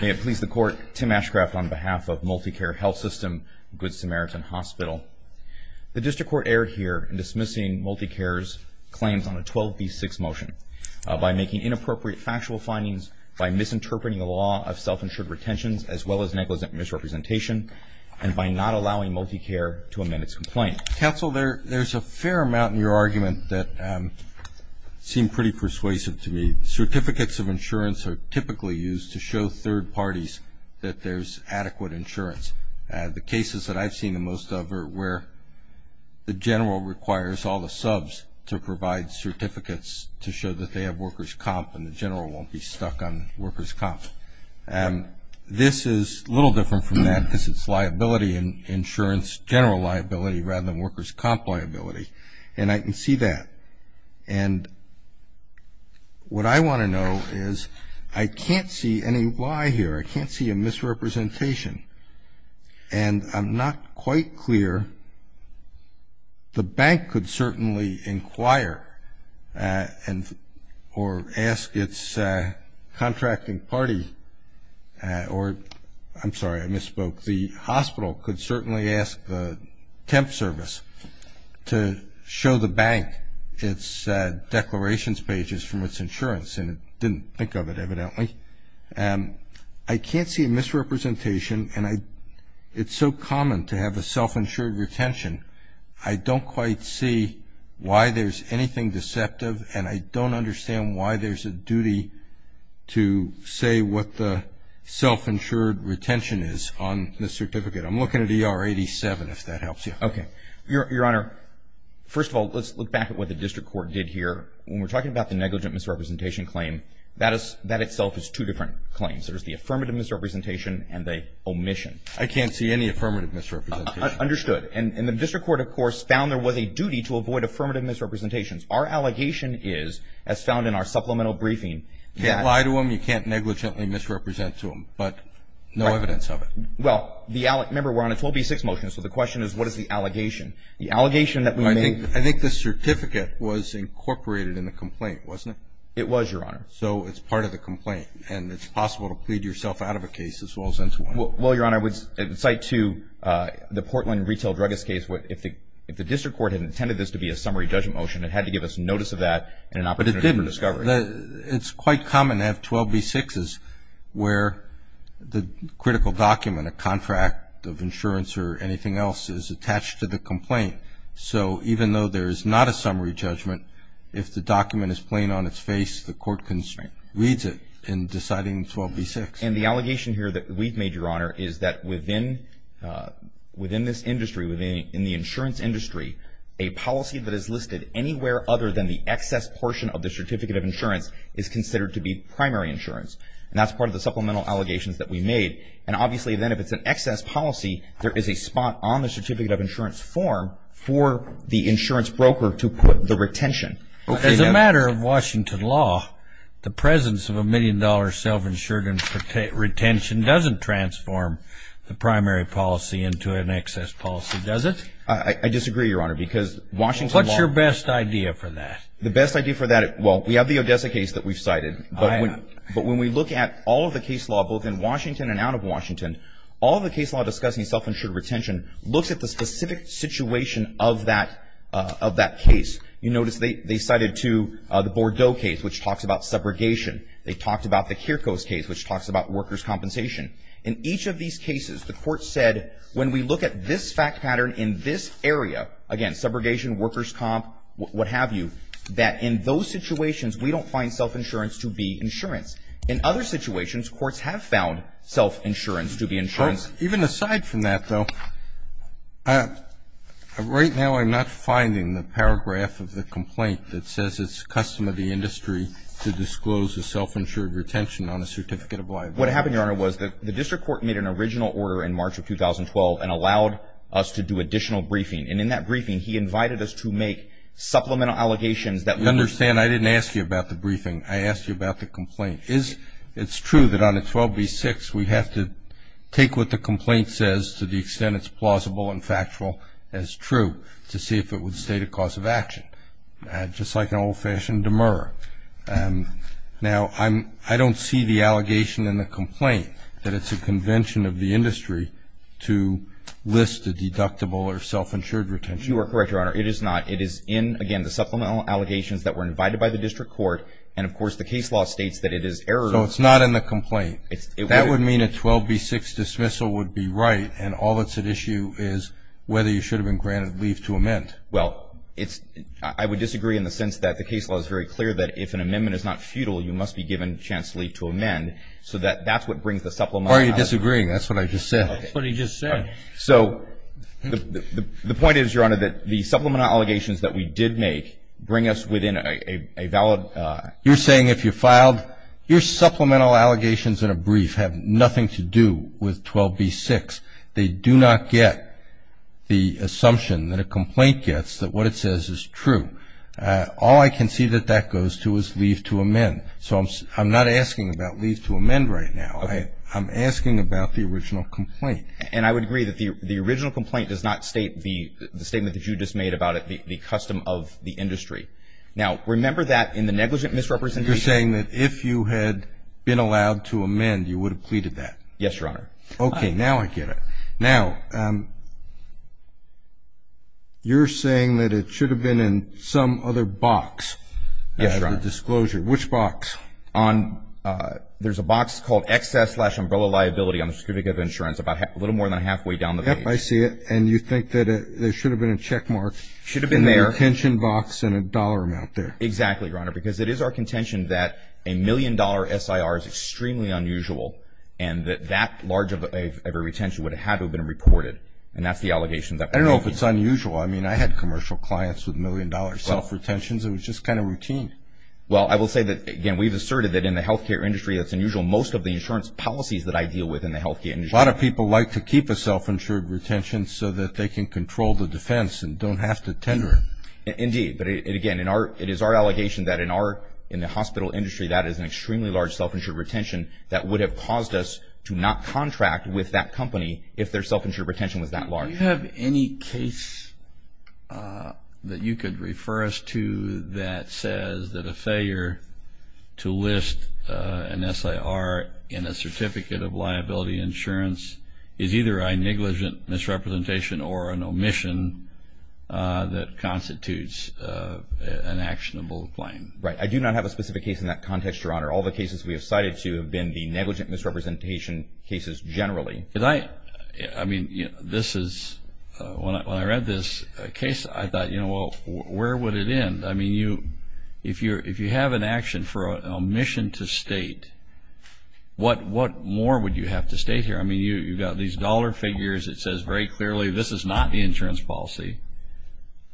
May it please the court, Tim Ashcraft on behalf of MultiCare Health System, Good Samaritan Hospital. The district court erred here in dismissing MultiCare's claims on a 12B6 motion by making inappropriate factual findings, by misinterpreting the law of self-insured retentions as well as negligent misrepresentation, and by not allowing MultiCare to amend its complaint. Counsel, there's a fair amount in your argument that seem pretty persuasive to me. Certificates of insurance are typically used to show third parties that there's adequate insurance. The cases that I've seen the most of are where the general requires all the subs to provide certificates to show that they have workers' comp and the general won't be stuck on workers' comp. This is a little different from that because it's liability insurance, general liability, rather than workers' comp liability. And I can see that. And what I want to know is I can't see any why here. I can't see a misrepresentation. And I'm not quite clear. The bank could certainly inquire or ask its contracting party, or I'm sorry, I misspoke. The hospital could certainly ask the temp service to show the bank its declarations pages from its insurance, and it didn't think of it evidently. I can't see a misrepresentation, and it's so common to have a self-insured retention. I don't quite see why there's anything deceptive, and I don't understand why there's a duty to say what the self-insured retention is on the certificate. I'm looking at ER 87, if that helps you. Okay. Your Honor, first of all, let's look back at what the district court did here. When we're talking about the negligent misrepresentation claim, that itself is two different claims. There's the affirmative misrepresentation and the omission. I can't see any affirmative misrepresentation. Understood. And the district court, of course, found there was a duty to avoid affirmative misrepresentations. Our allegation is, as found in our supplemental briefing, that ‑‑ You can't lie to them. You can't negligently misrepresent to them, but no evidence of it. Right. Well, remember, we're on a 12B6 motion, so the question is, what is the allegation? The allegation that we made ‑‑ I think the certificate was incorporated in the complaint, wasn't it? It was, Your Honor. So it's part of the complaint, and it's possible to plead yourself out of a case as well as into one. Well, Your Honor, I would cite to the Portland retail druggist case, if the district court had intended this to be a summary judgment motion, it had to give us notice of that and an opportunity for discovery. It's quite common to have 12B6s where the critical document, a contract of insurance or anything else, is attached to the complaint. So even though there is not a summary judgment, if the document is plain on its face, the court can read it in deciding 12B6. And the allegation here that we've made, Your Honor, is that within this industry, within the insurance industry, a policy that is listed anywhere other than the excess portion of the certificate of insurance is considered to be primary insurance. And that's part of the supplemental allegations that we made. And obviously, then, if it's an excess policy, there is a spot on the certificate of insurance form for the insurance broker to put the retention. As a matter of Washington law, the presence of a million-dollar self‑insured retention doesn't transform the primary policy into an excess policy, does it? I disagree, Your Honor, because Washington law. What's your best idea for that? The best idea for that, well, we have the Odessa case that we've cited. But when we look at all of the case law, both in Washington and out of Washington, all the case law discussing self‑insured retention looks at the specific situation of that case. You notice they cited, too, the Bordeaux case, which talks about subrogation. They talked about the Kierkegaard case, which talks about workers' compensation. In each of these cases, the court said, when we look at this fact pattern in this area, again, subrogation, workers' comp, what have you, that in those situations, we don't find self‑insurance to be insurance. In other situations, courts have found self‑insurance to be insurance. Even aside from that, though, right now I'm not finding the paragraph of the complaint that says it's custom of the industry to disclose a self‑insured retention on a certificate of liability. What happened, Your Honor, was the district court made an original order in March of 2012 and allowed us to do additional briefing. And in that briefing, he invited us to make supplemental allegations that we were ‑‑ You understand, I didn't ask you about the briefing. I asked you about the complaint. It's true that on 12B6 we have to take what the complaint says to the extent it's plausible and factual as true to see if it would state a cause of action. Just like an old‑fashioned demur. Now, I don't see the allegation in the complaint that it's a convention of the industry to list a deductible or self‑insured retention. You are correct, Your Honor. It is not. It is in, again, the supplemental allegations that were invited by the district court. And, of course, the case law states that it is error. So it's not in the complaint. That would mean a 12B6 dismissal would be right, and all that's at issue is whether you should have been granted leave to amend. Well, I would disagree in the sense that the case law is very clear that if an amendment is not futile, you must be given a chance to leave to amend. So that's what brings the supplemental allegations. Why are you disagreeing? That's what I just said. That's what he just said. So the point is, Your Honor, that the supplemental allegations that we did make bring us within a valid ‑‑ You're saying if you filed, your supplemental allegations in a brief have nothing to do with 12B6. They do not get the assumption that a complaint gets that what it says is true. All I can see that that goes to is leave to amend. So I'm not asking about leave to amend right now. I'm asking about the original complaint. And I would agree that the original complaint does not state the statement that you just made about it, the custom of the industry. Now, remember that in the negligent misrepresentation. You're saying that if you had been allowed to amend, you would have pleaded that. Yes, Your Honor. Okay, now I get it. Now, you're saying that it should have been in some other box after the disclosure. Yes, Your Honor. Which box? There's a box called excess slash umbrella liability on the certificate of insurance, a little more than halfway down the page. Yep, I see it. And you think that there should have been a checkmark in the contention box and a dollar amount there. Exactly, Your Honor, because it is our contention that a million-dollar SIR is extremely unusual and that that large of a retention would have had to have been reported. And that's the allegation that we're making. I don't know if it's unusual. I mean, I had commercial clients with million-dollar self-retentions. It was just kind of routine. Well, I will say that, again, we've asserted that in the health care industry, it's unusual most of the insurance policies that I deal with in the health care industry. A lot of people like to keep a self-insured retention so that they can control the defense and don't have to tender it. Indeed. But, again, it is our allegation that in the hospital industry, that is an extremely large self-insured retention that would have caused us to not contract with that company if their self-insured retention was that large. Do you have any case that you could refer us to that says that a failure to list an SIR in a certificate of liability insurance is either a negligent misrepresentation or an omission that constitutes an actionable claim? Right. I do not have a specific case in that context, Your Honor. All the cases we have cited to have been the negligent misrepresentation cases generally. I mean, when I read this case, I thought, you know, well, where would it end? I mean, if you have an action for an omission to state, what more would you have to state here? I mean, you've got these dollar figures. It says very clearly this is not the insurance policy.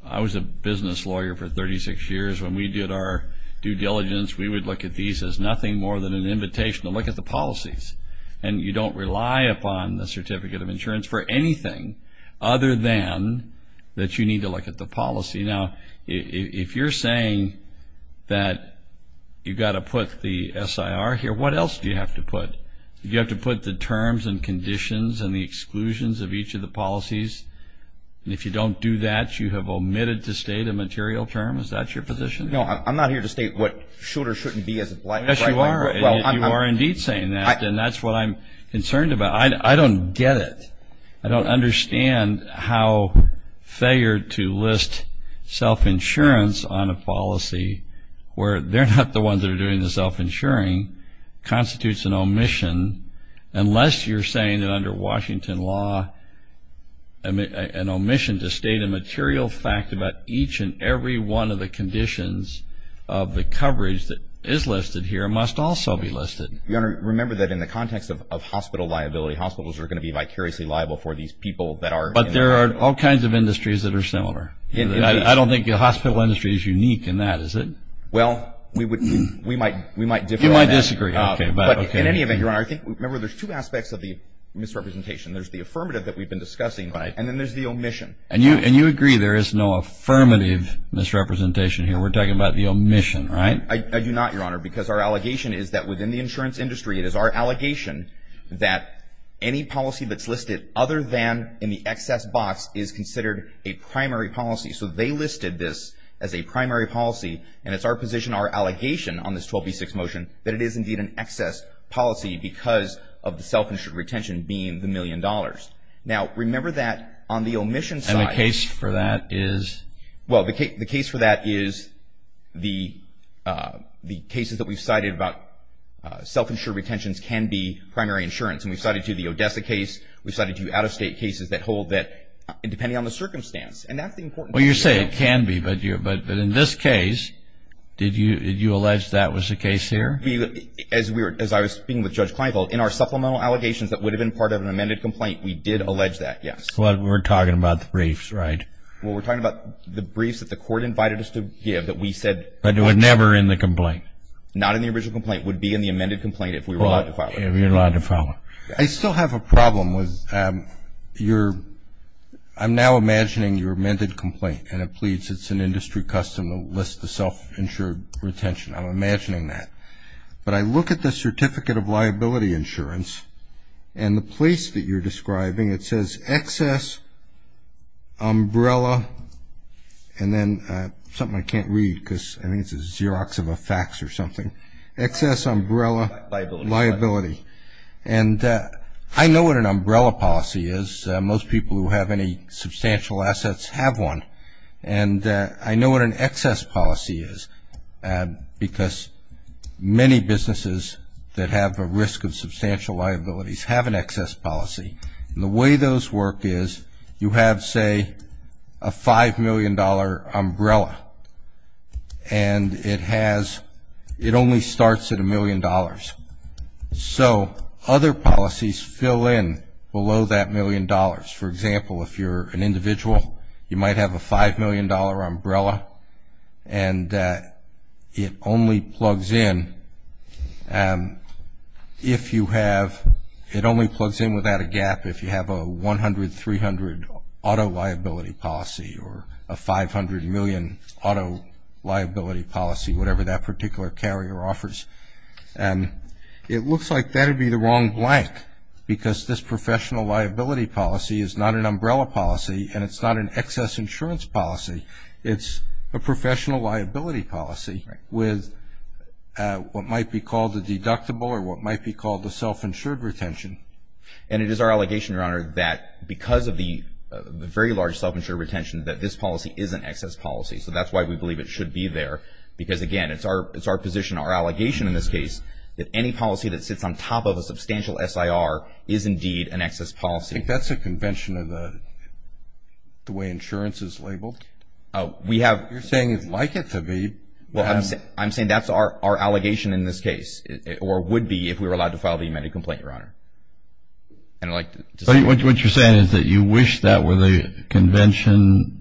I was a business lawyer for 36 years. When we did our due diligence, we would look at these as nothing more than an invitation to look at the policies. And you don't rely upon the certificate of insurance for anything other than that you need to look at the policy. Now, if you're saying that you've got to put the SIR here, what else do you have to put? You have to put the terms and conditions and the exclusions of each of the policies. And if you don't do that, you have omitted to state a material term. Is that your position? No, I'm not here to state what should or shouldn't be. Yes, you are. You are indeed saying that. And that's what I'm concerned about. I don't get it. I don't understand how failure to list self-insurance on a policy where they're not the ones that are doing the self-insuring constitutes an omission unless you're saying that under Washington law an omission to state a material fact about each and every one of the conditions of the coverage that is listed here must also be listed. Your Honor, remember that in the context of hospital liability, hospitals are going to be vicariously liable for these people that are in the industry. But there are all kinds of industries that are similar. I don't think the hospital industry is unique in that, is it? Well, we might differ on that. You might disagree. But in any event, Your Honor, remember there's two aspects of the misrepresentation. There's the affirmative that we've been discussing, and then there's the omission. And you agree there is no affirmative misrepresentation here. We're talking about the omission, right? I do not, Your Honor, because our allegation is that within the insurance industry, it is our allegation that any policy that's listed other than in the excess box is considered a primary policy. So they listed this as a primary policy, and it's our position, our allegation on this 12B6 motion, that it is indeed an excess policy because of the self-insured retention being the million dollars. Now, remember that on the omission side. And the case for that is? Well, the case for that is the cases that we've cited about self-insured retentions can be primary insurance. And we've cited, too, the Odessa case. We've cited, too, out-of-state cases that hold that depending on the circumstance. And that's the important thing. Well, you say it can be, but in this case, did you allege that was the case here? As I was speaking with Judge Kleinfeld, in our supplemental allegations that would have been part of an amended complaint, we did allege that, yes. Well, we're talking about the briefs, right? Well, we're talking about the briefs that the court invited us to give that we said. But it was never in the complaint? Not in the original complaint. It would be in the amended complaint if we were allowed to follow. If you're allowed to follow. I still have a problem with your ‑‑ I'm now imagining your amended complaint, and it pleads it's an industry custom to list the self-insured retention. I'm imagining that. But I look at the certificate of liability insurance, and the place that you're describing, it says excess umbrella, and then something I can't read because I think it's a Xerox of a fax or something. Excess umbrella liability. And I know what an umbrella policy is. Most people who have any substantial assets have one. And I know what an excess policy is, because many businesses that have a risk of substantial liabilities have an excess policy. And the way those work is you have, say, a $5 million umbrella, and it has ‑‑ it only starts at $1 million. So other policies fill in below that million dollars. For example, if you're an individual, you might have a $5 million umbrella, and it only plugs in if you have ‑‑ it only plugs in without a gap if you have a 100, 300 auto liability policy or a 500 million auto liability policy, whatever that particular carrier offers. And it looks like that would be the wrong blank, because this professional liability policy is not an umbrella policy, and it's not an excess insurance policy. It's a professional liability policy with what might be called a deductible or what might be called a self-insured retention. And it is our allegation, Your Honor, that because of the very large self-insured retention, that this policy is an excess policy. So that's why we believe it should be there. Because, again, it's our position, our allegation in this case, that any policy that sits on top of a substantial SIR is indeed an excess policy. I think that's a convention of the way insurance is labeled. We have ‑‑ You're saying you'd like it to be. Well, I'm saying that's our allegation in this case, or would be if we were allowed to file the amended complaint, Your Honor. What you're saying is that you wish that were the convention.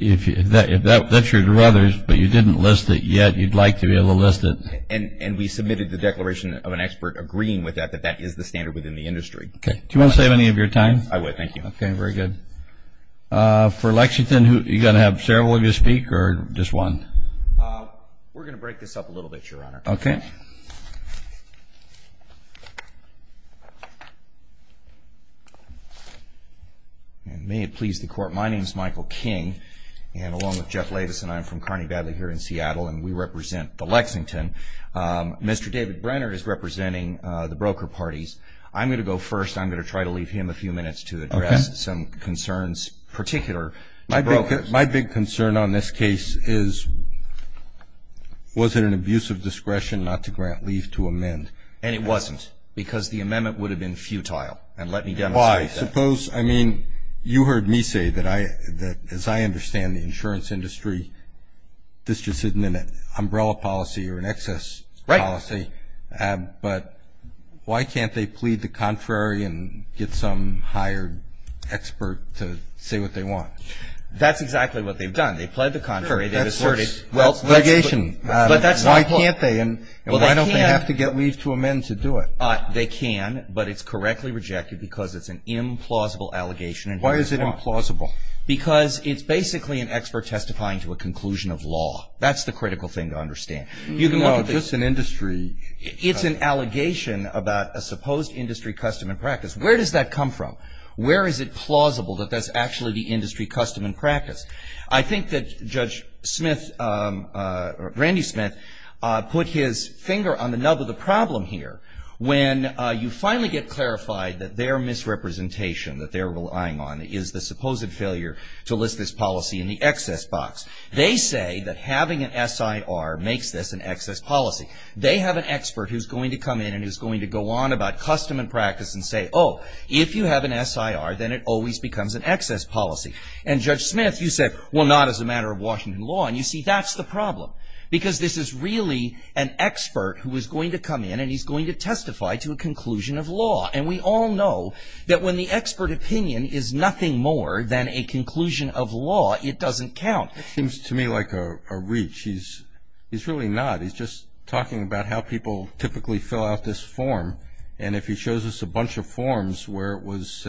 If that's your druthers, but you didn't list it yet, you'd like to be able to list it. And we submitted the declaration of an expert agreeing with that, that that is the standard within the industry. Do you want to save any of your time? I would, thank you. Okay, very good. For Lexington, are you going to have several of you speak or just one? We're going to break this up a little bit, Your Honor. Okay. And may it please the Court, my name is Michael King, and along with Jeff Lavis and I I'm from Kearney-Badley here in Seattle, and we represent the Lexington. Mr. David Brenner is representing the broker parties. I'm going to go first. I'm going to try to leave him a few minutes to address some concerns, particular to brokers. My big concern on this case is was it an abuse of discretion not to grant leave to amend? And it wasn't because the amendment would have been futile. And let me demonstrate that. Why? Suppose, I mean, you heard me say that as I understand the insurance industry, this just isn't an umbrella policy or an excess policy. Right. But why can't they plead the contrary and get some hired expert to say what they want? That's exactly what they've done. They've pled the contrary. They've asserted. That's litigation. But that's not what. Why can't they and why don't they have to get leave to amend to do it? They can, but it's correctly rejected because it's an implausible allegation. Why is it implausible? Because it's basically an expert testifying to a conclusion of law. That's the critical thing to understand. No, just an industry. It's an allegation about a supposed industry custom and practice. Where does that come from? Where is it plausible that that's actually the industry custom and practice? I think that Judge Smith, Randy Smith, put his finger on the nub of the problem here. When you finally get clarified that their misrepresentation, that they're relying on is the supposed failure to list this policy in the excess box. They say that having an SIR makes this an excess policy. They have an expert who's going to come in and who's going to go on about custom and practice and say, oh, if you have an SIR, then it always becomes an excess policy. And Judge Smith, you said, well, not as a matter of Washington law. And you see, that's the problem. Because this is really an expert who is going to come in and he's going to testify to a conclusion of law. And we all know that when the expert opinion is nothing more than a conclusion of law, it doesn't count. It seems to me like a reach. He's really not. He's just talking about how people typically fill out this form. And if he shows us a bunch of forms where it was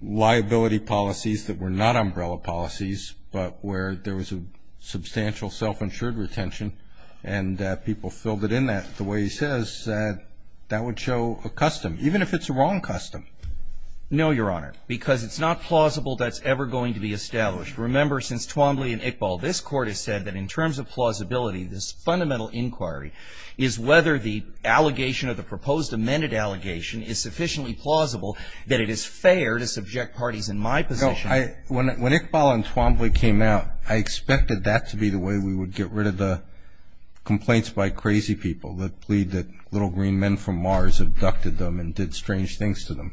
liability policies that were not umbrella policies, but where there was a substantial self-insured retention and people filled it in the way he says, that would show a custom, even if it's a wrong custom. No, Your Honor, because it's not plausible that's ever going to be established. Remember, since Twombly and Iqbal, this Court has said that in terms of plausibility, this fundamental inquiry is whether the allegation of the proposed amended allegation is sufficiently plausible that it is fair to subject parties in my position. When Iqbal and Twombly came out, I expected that to be the way we would get rid of the complaints by crazy people that plead that little green men from Mars abducted them and did strange things to them.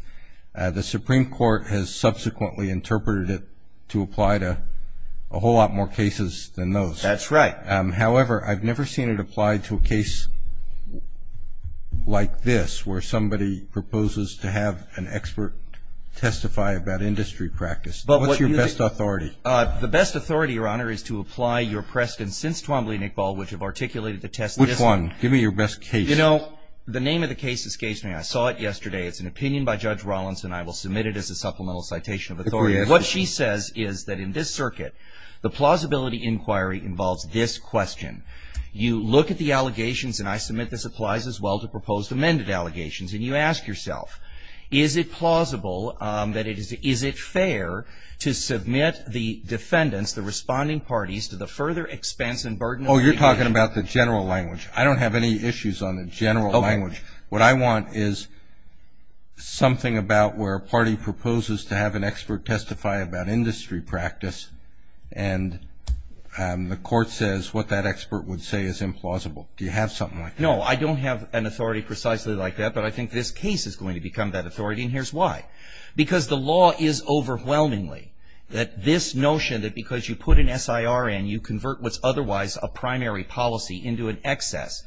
The Supreme Court has subsequently interpreted it to apply to a whole lot more cases than those. That's right. However, I've never seen it applied to a case like this, where somebody proposes to have an expert testify about industry practice. What's your best authority? The best authority, Your Honor, is to apply your precedent since Twombly and Iqbal, which have articulated the test system. Which one? Give me your best case. You know, the name of the case is case name. I saw it yesterday. It's an opinion by Judge Rawlinson. I will submit it as a supplemental citation of authority. What she says is that in this circuit, the plausibility inquiry involves this question. You look at the allegations, and I submit this applies as well to proposed amended allegations. And you ask yourself, is it plausible that it is — is it fair to submit the defendants, the responding parties, to the further expense and burden of — Oh, you're talking about the general language. Okay. What I want is something about where a party proposes to have an expert testify about industry practice, and the court says what that expert would say is implausible. Do you have something like that? No, I don't have an authority precisely like that, but I think this case is going to become that authority, and here's why. Because the law is overwhelmingly that this notion that because you put an SIR in, you convert what's otherwise a primary policy into an excess,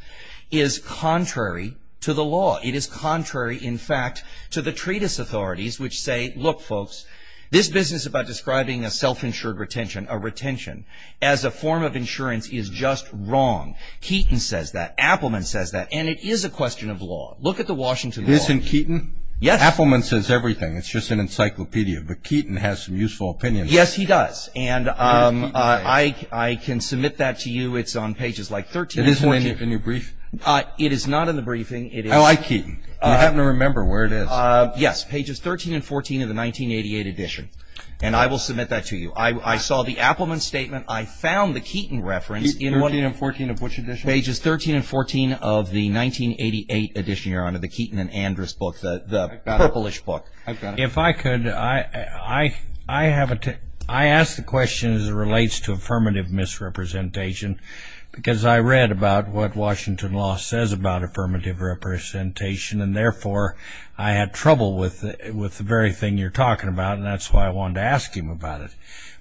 is contrary to the law. It is contrary, in fact, to the treatise authorities, which say, look, folks, this business about describing a self-insured retention, a retention, as a form of insurance is just wrong. Keaton says that. Appelman says that. And it is a question of law. Look at the Washington Law. It is in Keaton? Yes. Appelman says everything. It's just an encyclopedia. But Keaton has some useful opinions. Yes, he does. And I can submit that to you. It's on pages like 13 and 14. Is it in your briefing? It is not in the briefing. I like Keaton. I happen to remember where it is. Yes, pages 13 and 14 of the 1988 edition. And I will submit that to you. I saw the Appelman statement. I found the Keaton reference. 13 and 14 of which edition? Pages 13 and 14 of the 1988 edition, Your Honor, the Keaton and Andrus book, the purplish book. I've got it. My question relates to affirmative misrepresentation. Because I read about what Washington Law says about affirmative representation. And, therefore, I had trouble with the very thing you're talking about. And that's why I wanted to ask you about it.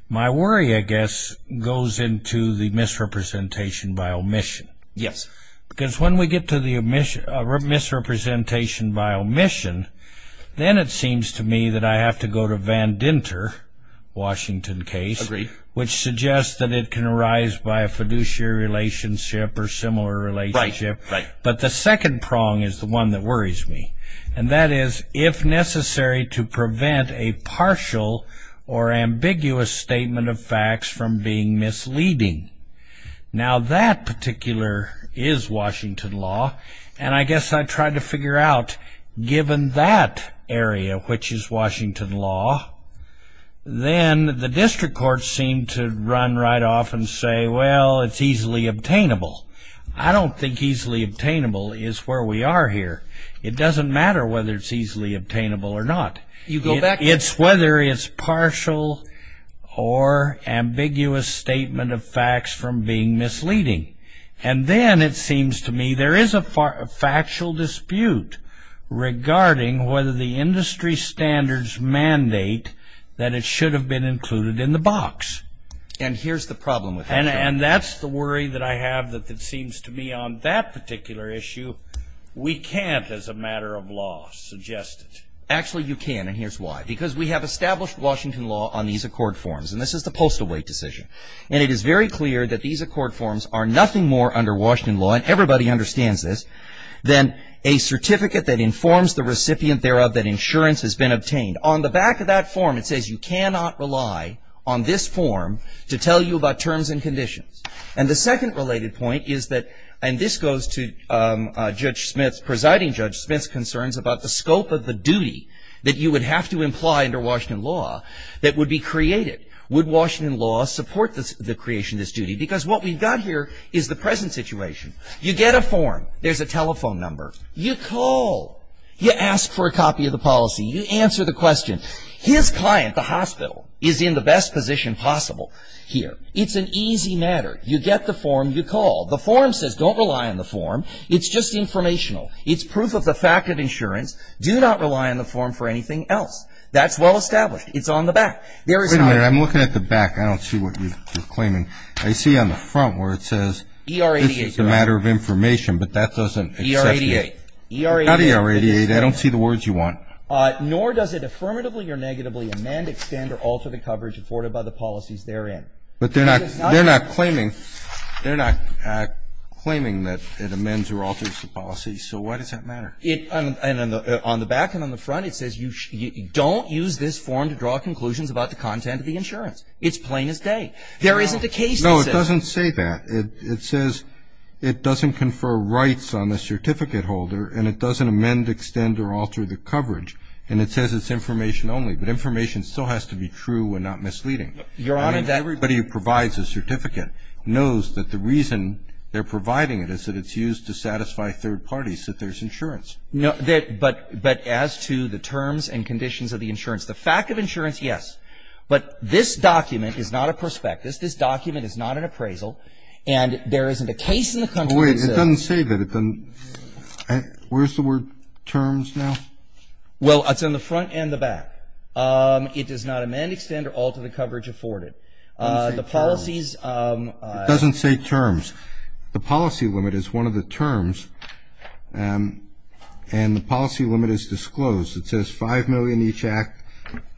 My worry, I guess, goes into the misrepresentation by omission. Yes. Because when we get to the misrepresentation by omission, then it seems to me that I have to go to Van Dinter, Washington case. Agreed. Which suggests that it can arise by a fiduciary relationship or similar relationship. Right. But the second prong is the one that worries me. And that is, if necessary, to prevent a partial or ambiguous statement of facts from being misleading. Now, that particular is Washington Law. And I guess I tried to figure out, given that area, which is Washington Law, then the district courts seem to run right off and say, well, it's easily obtainable. I don't think easily obtainable is where we are here. It doesn't matter whether it's easily obtainable or not. You go back. It's whether it's partial or ambiguous statement of facts from being misleading. And then it seems to me there is a factual dispute regarding whether the industry standards mandate that it should have been included in the box. And here's the problem with that. And that's the worry that I have that it seems to me on that particular issue, we can't, as a matter of law, suggest it. Actually, you can. And here's why. Because we have established Washington Law on these accord forms. And this is the postal weight decision. And it is very clear that these accord forms are nothing more under Washington Law, and everybody understands this, than a certificate that informs the recipient thereof that insurance has been obtained. On the back of that form, it says you cannot rely on this form to tell you about terms and conditions. And the second related point is that, and this goes to Judge Smith's, Presiding Judge Smith's concerns about the scope of the duty that you would have to imply under Washington Law that would be created. Would Washington Law support the creation of this duty? Because what we've got here is the present situation. You get a form. There's a telephone number. You call. You ask for a copy of the policy. You answer the question. His client, the hospital, is in the best position possible here. It's an easy matter. You get the form. You call. The form says don't rely on the form. It's just informational. It's proof of the fact of insurance. Do not rely on the form for anything else. That's well established. It's on the back. Wait a minute. I'm looking at the back. I don't see what you're claiming. I see on the front where it says this is a matter of information. But that doesn't accept the 8. It's not ER-88. I don't see the words you want. Nor does it affirmatively or negatively amend, extend, or alter the coverage afforded by the policies therein. But they're not claiming. They're not claiming that it amends or alters the policy. So why does that matter? And on the back and on the front, it says you don't use this form to draw conclusions about the content of the insurance. It's plain as day. There isn't a case that says that. No, it doesn't say that. It says it doesn't confer rights on the certificate holder, and it doesn't amend, extend, or alter the coverage. And it says it's information only. But information still has to be true and not misleading. Your Honor, that ---- I mean, everybody who provides a certificate knows that the reason they're providing it is that it's used to satisfy third parties that there's insurance. No, but as to the terms and conditions of the insurance, the fact of insurance, yes. But this document is not a prospectus. This document is not an appraisal. And there isn't a case in the country that says ---- Wait. It doesn't say that. It doesn't ---- where's the word terms now? Well, it's on the front and the back. It does not amend, extend, or alter the coverage afforded. The policies ---- It doesn't say terms. The policy limit is one of the terms. And the policy limit is disclosed. It says 5 million each act.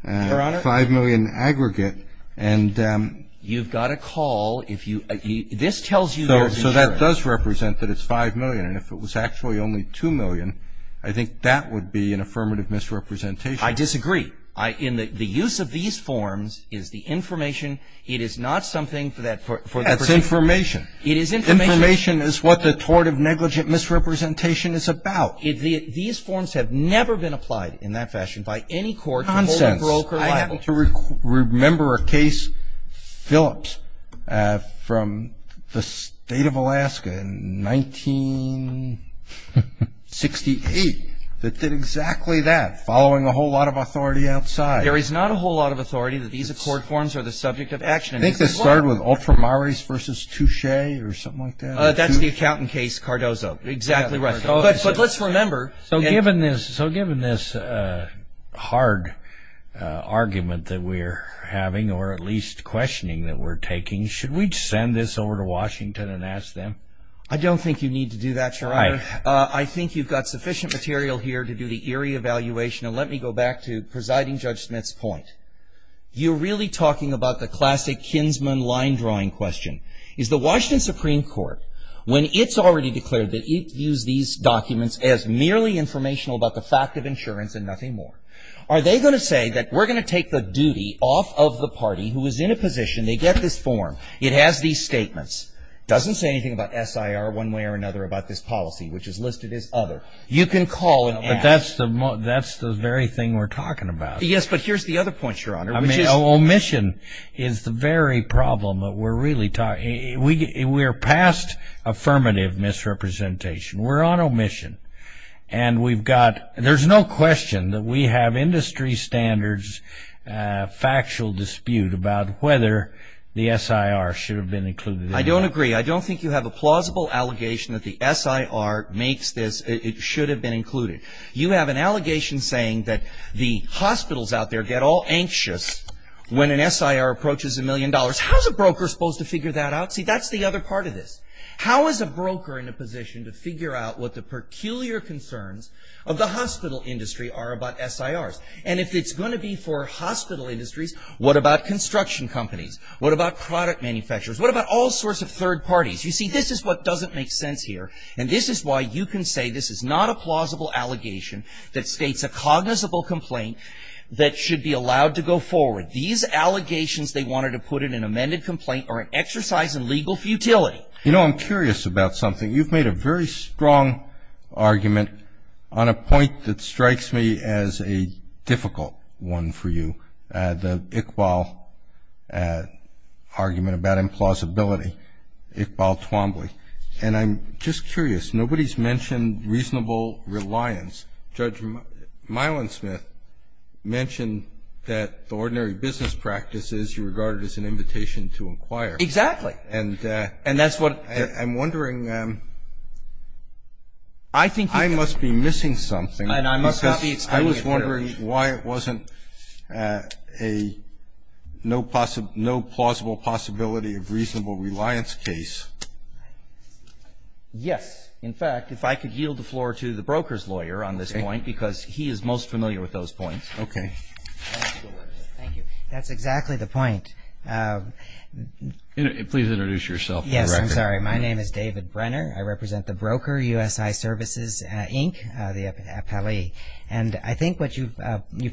Your Honor? 5 million aggregate. And ---- You've got to call if you ---- this tells you there's insurance. So that does represent that it's 5 million. And if it was actually only 2 million, I think that would be an affirmative misrepresentation. I disagree. In the use of these forms is the information. It is not something for that ---- That's information. It is information. Information is what the tort of negligent misrepresentation is about. These forms have never been applied in that fashion by any court to hold a broker liable. Nonsense. I happen to remember a case, Phillips, from the State of Alaska in 1968, that did exactly that, following a whole lot of authority outside. There is not a whole lot of authority that these accord forms are the subject of action. I think this started with ultramarys versus touche or something like that. That's the accountant case, Cardozo. Exactly right. But let's remember ---- So given this hard argument that we're having or at least questioning that we're taking, should we send this over to Washington and ask them? I don't think you need to do that, Your Honor. I think you've got sufficient material here to do the eerie evaluation. And let me go back to presiding Judge Smith's point. You're really talking about the classic kinsman line drawing question. Is the Washington Supreme Court, when it's already declared that it views these documents as merely informational about the fact of insurance and nothing more, are they going to say that we're going to take the duty off of the party who is in a position, they get this form, it has these statements, doesn't say anything about SIR one way or another about this policy, which is listed as other. You can call and ask. But that's the very thing we're talking about. Yes, but here's the other point, Your Honor. I mean, omission is the very problem that we're really talking about. We're past affirmative misrepresentation. We're on omission. And we've got ---- there's no question that we have industry standards, factual dispute about whether the SIR should have been included. I don't agree. I don't think you have a plausible allegation that the SIR makes this. It should have been included. You have an allegation saying that the hospitals out there get all anxious when an SIR approaches a million dollars. How is a broker supposed to figure that out? See, that's the other part of this. How is a broker in a position to figure out what the peculiar concerns of the hospital industry are about SIRs? And if it's going to be for hospital industries, what about construction companies? What about product manufacturers? What about all sorts of third parties? You see, this is what doesn't make sense here. And this is why you can say this is not a plausible allegation that states a cognizable complaint that should be allowed to go forward. These allegations they wanted to put in an amended complaint are an exercise in legal futility. You know, I'm curious about something. You've made a very strong argument on a point that strikes me as a difficult one for you, the Iqbal argument about implausibility, Iqbal Twombly. And I'm just curious, nobody's mentioned reasonable reliance. Judge Milensmith mentioned that the ordinary business practice is regarded as an invitation to inquire. Exactly. And that's what I'm wondering. I think I must be missing something. And I must not be explaining it fairly. I'm wondering why it wasn't a no plausible possibility of reasonable reliance case. Yes. In fact, if I could yield the floor to the broker's lawyer on this point, because he is most familiar with those points. Okay. Thank you. That's exactly the point. Please introduce yourself. Yes, I'm sorry. My name is David Brenner. I represent the broker, USI Services, Inc., the appellee. And I think what you've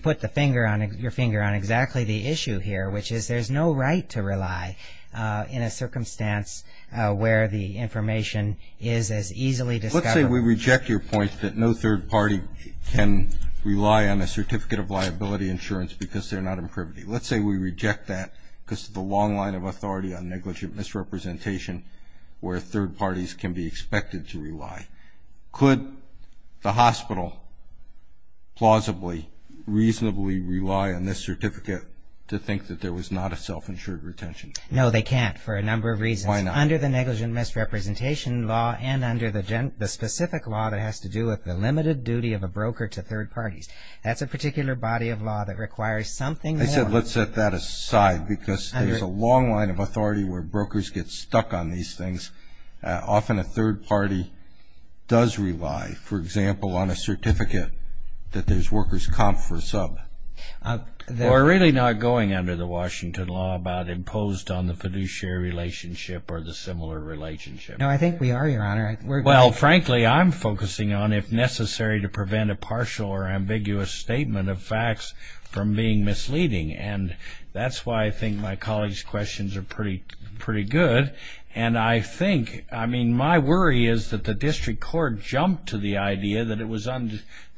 put your finger on exactly the issue here, which is there's no right to rely in a circumstance where the information is as easily discovered. Let's say we reject your point that no third party can rely on a certificate of liability insurance because they're not in privity. Let's say we reject that because of the long line of authority on negligent misrepresentation where third parties can be expected to rely. Could the hospital plausibly, reasonably rely on this certificate to think that there was not a self-insured retention? No, they can't for a number of reasons. Why not? Under the negligent misrepresentation law and under the specific law that has to do with the limited duty of a broker to third parties. That's a particular body of law that requires something. I said let's set that aside because there's a long line of authority where brokers get stuck on these things. Often a third party does rely, for example, on a certificate that there's workers' comp for a sub. We're really not going under the Washington law about imposed on the fiduciary relationship or the similar relationship. No, I think we are, Your Honor. Well, frankly, I'm focusing on if necessary to prevent a partial or ambiguous statement of facts from being misleading. And that's why I think my colleagues' questions are pretty good. And I think, I mean, my worry is that the district court jumped to the idea that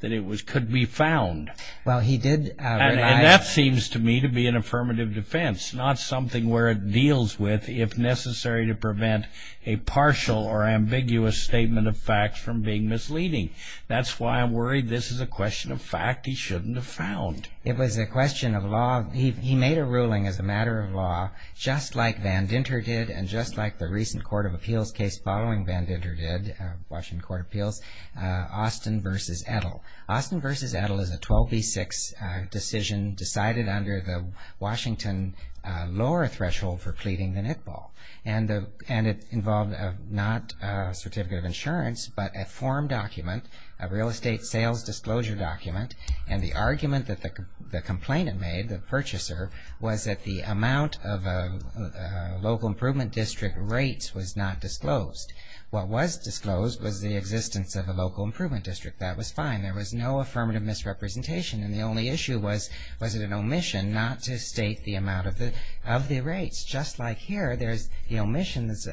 it could be found. Well, he did rely... And that seems to me to be an affirmative defense, not something where it deals with if necessary to prevent a partial or ambiguous statement of facts from being misleading. That's why I'm worried this is a question of fact he shouldn't have found. It was a question of law. Well, he made a ruling as a matter of law, just like Van Dinter did and just like the recent court of appeals case following Van Dinter did, Washington Court of Appeals, Austin v. Edel. Austin v. Edel is a 12B6 decision decided under the Washington lower threshold for pleading than Iqbal. And it involved not a certificate of insurance but a form document, a real estate sales disclosure document, and the argument that the complainant made, the purchaser, was that the amount of local improvement district rates was not disclosed. What was disclosed was the existence of a local improvement district. That was fine. There was no affirmative misrepresentation, and the only issue was was it an omission not to state the amount of the rates. Just like here, there's the omissions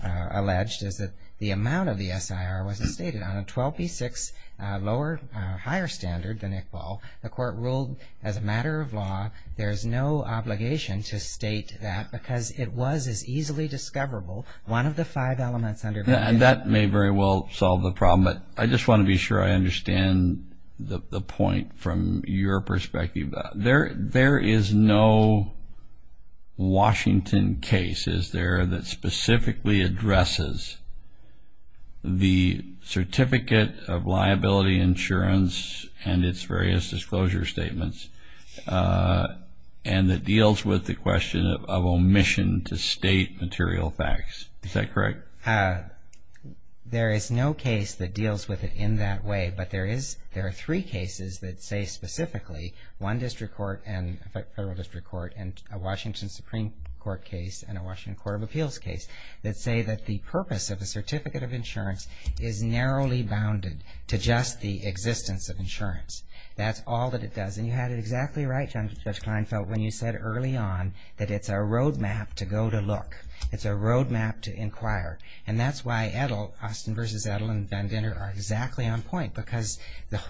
alleged is that the amount of the SIR wasn't stated. On a 12B6 higher standard than Iqbal, the court ruled as a matter of law, there's no obligation to state that because it was as easily discoverable, one of the five elements under Van Dinter. That may very well solve the problem, but I just want to be sure I understand the point from your perspective. There is no Washington case, is there, that specifically addresses the certificate of liability insurance and its various disclosure statements and that deals with the question of omission to state material facts. Is that correct? There is no case that deals with it in that way, but there are three cases that say specifically. One district court and a federal district court and a Washington Supreme Court case and a Washington Court of Appeals case that say that the purpose of a certificate of insurance is narrowly bounded to just the existence of insurance. That's all that it does, and you had it exactly right, Judge Kleinfeld, when you said early on that it's a road map to go to look. It's a road map to inquire, and that's why Austin v. Edel and Van Dinter are exactly on point because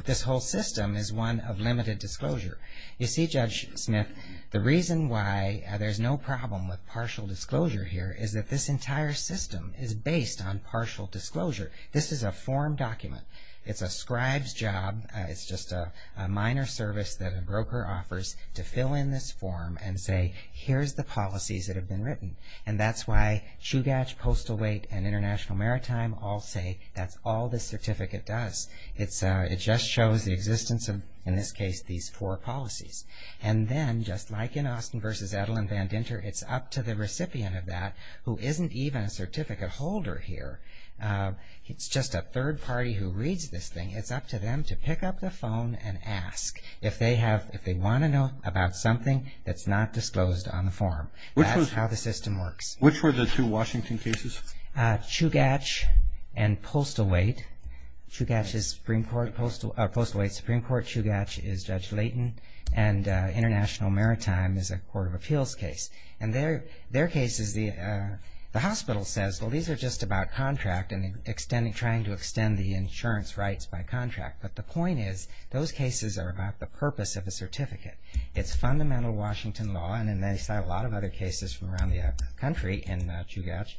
this whole system is one of limited disclosure. You see, Judge Smith, the reason why there's no problem with partial disclosure here is that this entire system is based on partial disclosure. This is a form document. It's a scribe's job. It's just a minor service that a broker offers to fill in this form and say here's the policies that have been written, and that's why Chugach, Postal Wait, and International Maritime all say that's all this certificate does. It just shows the existence of, in this case, these four policies. And then, just like in Austin v. Edel and Van Dinter, it's up to the recipient of that, who isn't even a certificate holder here. It's just a third party who reads this thing. It's up to them to pick up the phone and ask if they want to know about something that's not disclosed on the form. That's how the system works. Which were the two Washington cases? Chugach and Postal Wait. Chugach is Postal Wait, Supreme Court. Chugach is Judge Layton. And International Maritime is a court of appeals case. And their case is the hospital says, well, these are just about contract and trying to extend the insurance rights by contract. But the point is those cases are about the purpose of a certificate. It's fundamental Washington law, and they cite a lot of other cases from around the country in Chugach,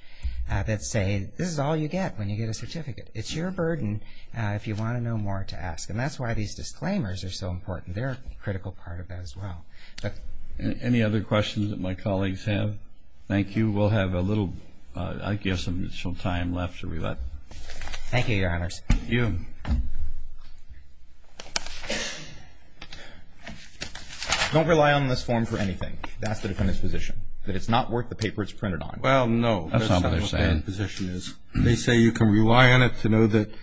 that say this is all you get when you get a certificate. It's your burden if you want to know more to ask. And that's why these disclaimers are so important. They're a critical part of that as well. Any other questions that my colleagues have? Thank you. We'll have a little, I guess, additional time left. Thank you, Your Honors. Thank you. Thank you. Don't rely on this form for anything. That's the defendant's position, that it's not worth the paper it's printed on. Well, no. That's not what they're saying. That's not what their position is. They say you can rely on it to know that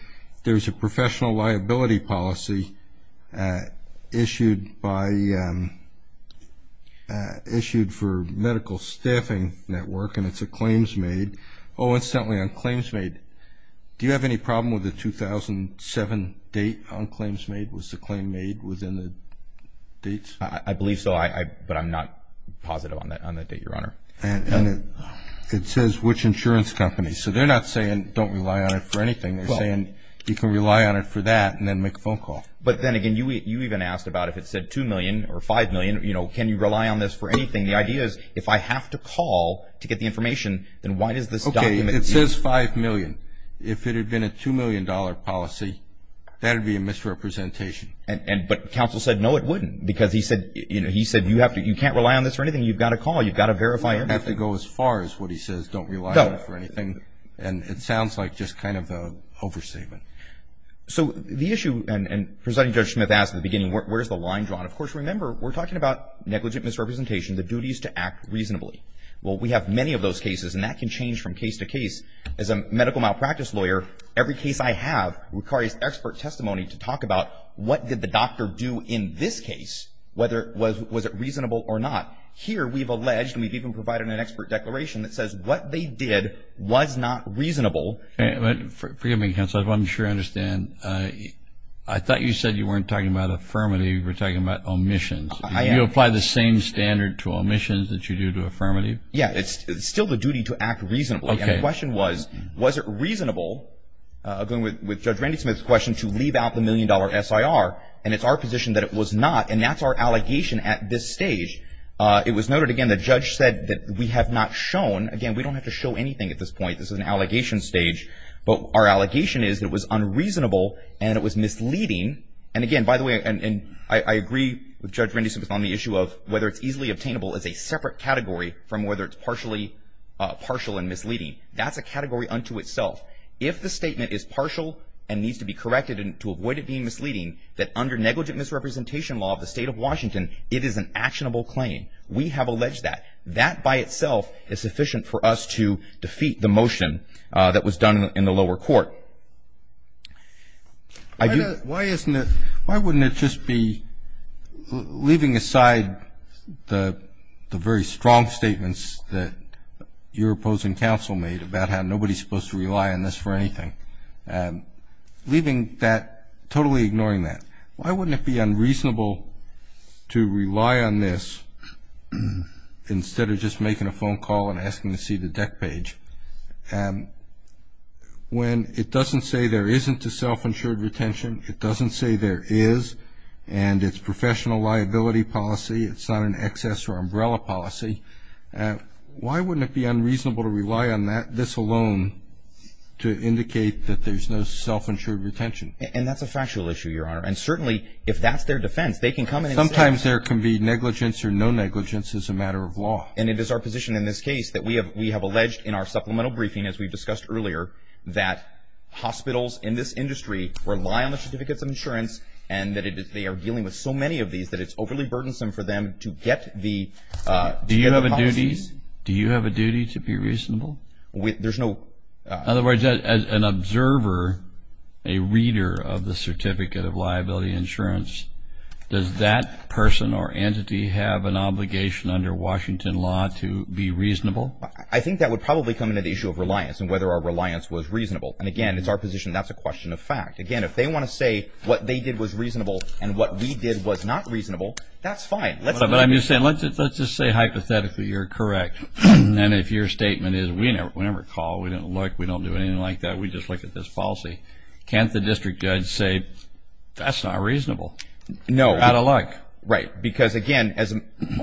there's a professional liability policy issued by the issued for medical staffing network, and it's a claims made. Incidentally, on claims made, do you have any problem with the 2007 date on claims made? Was the claim made within the dates? I believe so, but I'm not positive on that date, Your Honor. And it says which insurance company. So they're not saying don't rely on it for anything. They're saying you can rely on it for that and then make a phone call. But then again, you even asked about if it said $2 million or $5 million, can you rely on this for anything? The idea is if I have to call to get the information, then why does this document need to be? Okay, it says $5 million. If it had been a $2 million policy, that would be a misrepresentation. But counsel said no it wouldn't because he said you can't rely on this for anything. You've got to call. You've got to verify everything. You don't have to go as far as what he says, don't rely on it for anything. And it sounds like just kind of an overstatement. So the issue, and Presiding Judge Smith asked at the beginning, where's the line drawn? Of course, remember, we're talking about negligent misrepresentation, the duties to act reasonably. Well, we have many of those cases, and that can change from case to case. As a medical malpractice lawyer, every case I have requires expert testimony to talk about what did the doctor do in this case, whether it was reasonable or not. Here we've alleged and we've even provided an expert declaration that says what they did was not reasonable. Forgive me, counsel. I'm sure I understand. I thought you said you weren't talking about affirmative. You were talking about omissions. Do you apply the same standard to omissions that you do to affirmative? Yeah. It's still the duty to act reasonably. Okay. And the question was, was it reasonable, agreeing with Judge Randy Smith's question, to leave out the million-dollar SIR, and it's our position that it was not, and that's our allegation at this stage. It was noted, again, the judge said that we have not shown. Again, we don't have to show anything at this point. This is an allegation stage. But our allegation is it was unreasonable and it was misleading. And, again, by the way, and I agree with Judge Randy Smith on the issue of whether it's easily obtainable as a separate category from whether it's partially partial and misleading. That's a category unto itself. If the statement is partial and needs to be corrected to avoid it being misleading, that under negligent misrepresentation law of the State of Washington, it is an actionable claim. We have alleged that. That by itself is sufficient for us to defeat the motion that was done in the lower court. Why wouldn't it just be, leaving aside the very strong statements that your opposing counsel made about how nobody's supposed to rely on this for anything, leaving that, totally ignoring that, why wouldn't it be unreasonable to rely on this instead of just making a phone call and asking to see the deck page? When it doesn't say there isn't a self-insured retention, it doesn't say there is, and it's professional liability policy, it's not an excess or umbrella policy, why wouldn't it be unreasonable to rely on that, this alone, to indicate that there's no self-insured retention? And that's a factual issue, Your Honor. And, certainly, if that's their defense, they can come in and say. Sometimes there can be negligence or no negligence as a matter of law. And it is our position in this case that we have alleged in our supplemental briefing, as we've discussed earlier, that hospitals in this industry rely on the certificates of insurance and that they are dealing with so many of these that it's overly burdensome for them to get the policies. Do you have a duty to be reasonable? There's no... In other words, as an observer, a reader of the certificate of liability insurance, does that person or entity have an obligation under Washington law to be reasonable? I think that would probably come into the issue of reliance and whether our reliance was reasonable. And, again, it's our position that that's a question of fact. Again, if they want to say what they did was reasonable and what we did was not reasonable, that's fine. But I'm just saying, let's just say hypothetically you're correct, and if your statement is we never called, we didn't look, we don't do anything like that, we just look at this policy, can't the district judge say that's not reasonable? No. Out of luck. Right. Because, again,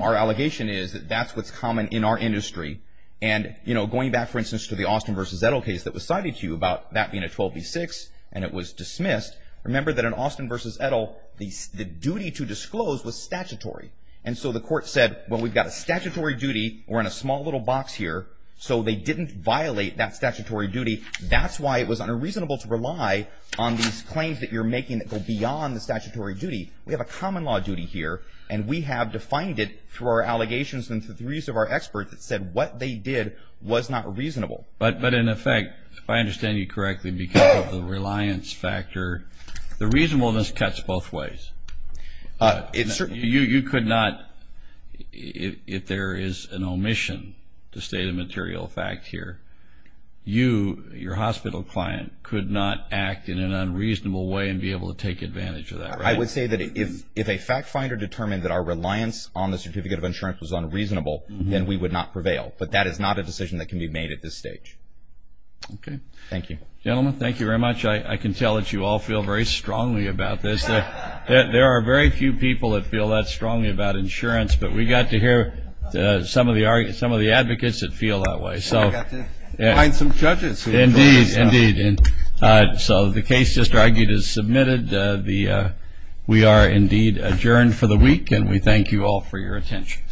our allegation is that that's what's common in our industry. And, you know, going back, for instance, to the Austin v. Edel case that was cited to you about that being a 12B6 and it was dismissed, remember that in Austin v. Edel, the duty to disclose was statutory. And so the court said, well, we've got a statutory duty, we're in a small little box here, so they didn't violate that statutory duty. That's why it was unreasonable to rely on these claims that you're making that go beyond the statutory duty. We have a common law duty here, and we have defined it through our allegations and through the use of our experts that said what they did was not reasonable. But in effect, if I understand you correctly, because of the reliance factor, the reasonableness cuts both ways. You could not, if there is an omission to state a material fact here, you, your hospital client, could not act in an unreasonable way and be able to take advantage of that, right? I would say that if a fact finder determined that our reliance on the certificate of insurance was unreasonable, then we would not prevail. But that is not a decision that can be made at this stage. Okay. Thank you. Gentlemen, thank you very much. I can tell that you all feel very strongly about this. There are very few people that feel that strongly about insurance, but we got to hear some of the advocates that feel that way. We got to find some judges. Indeed. Indeed. So the case just argued is submitted. We are indeed adjourned for the week, and we thank you all for your attention.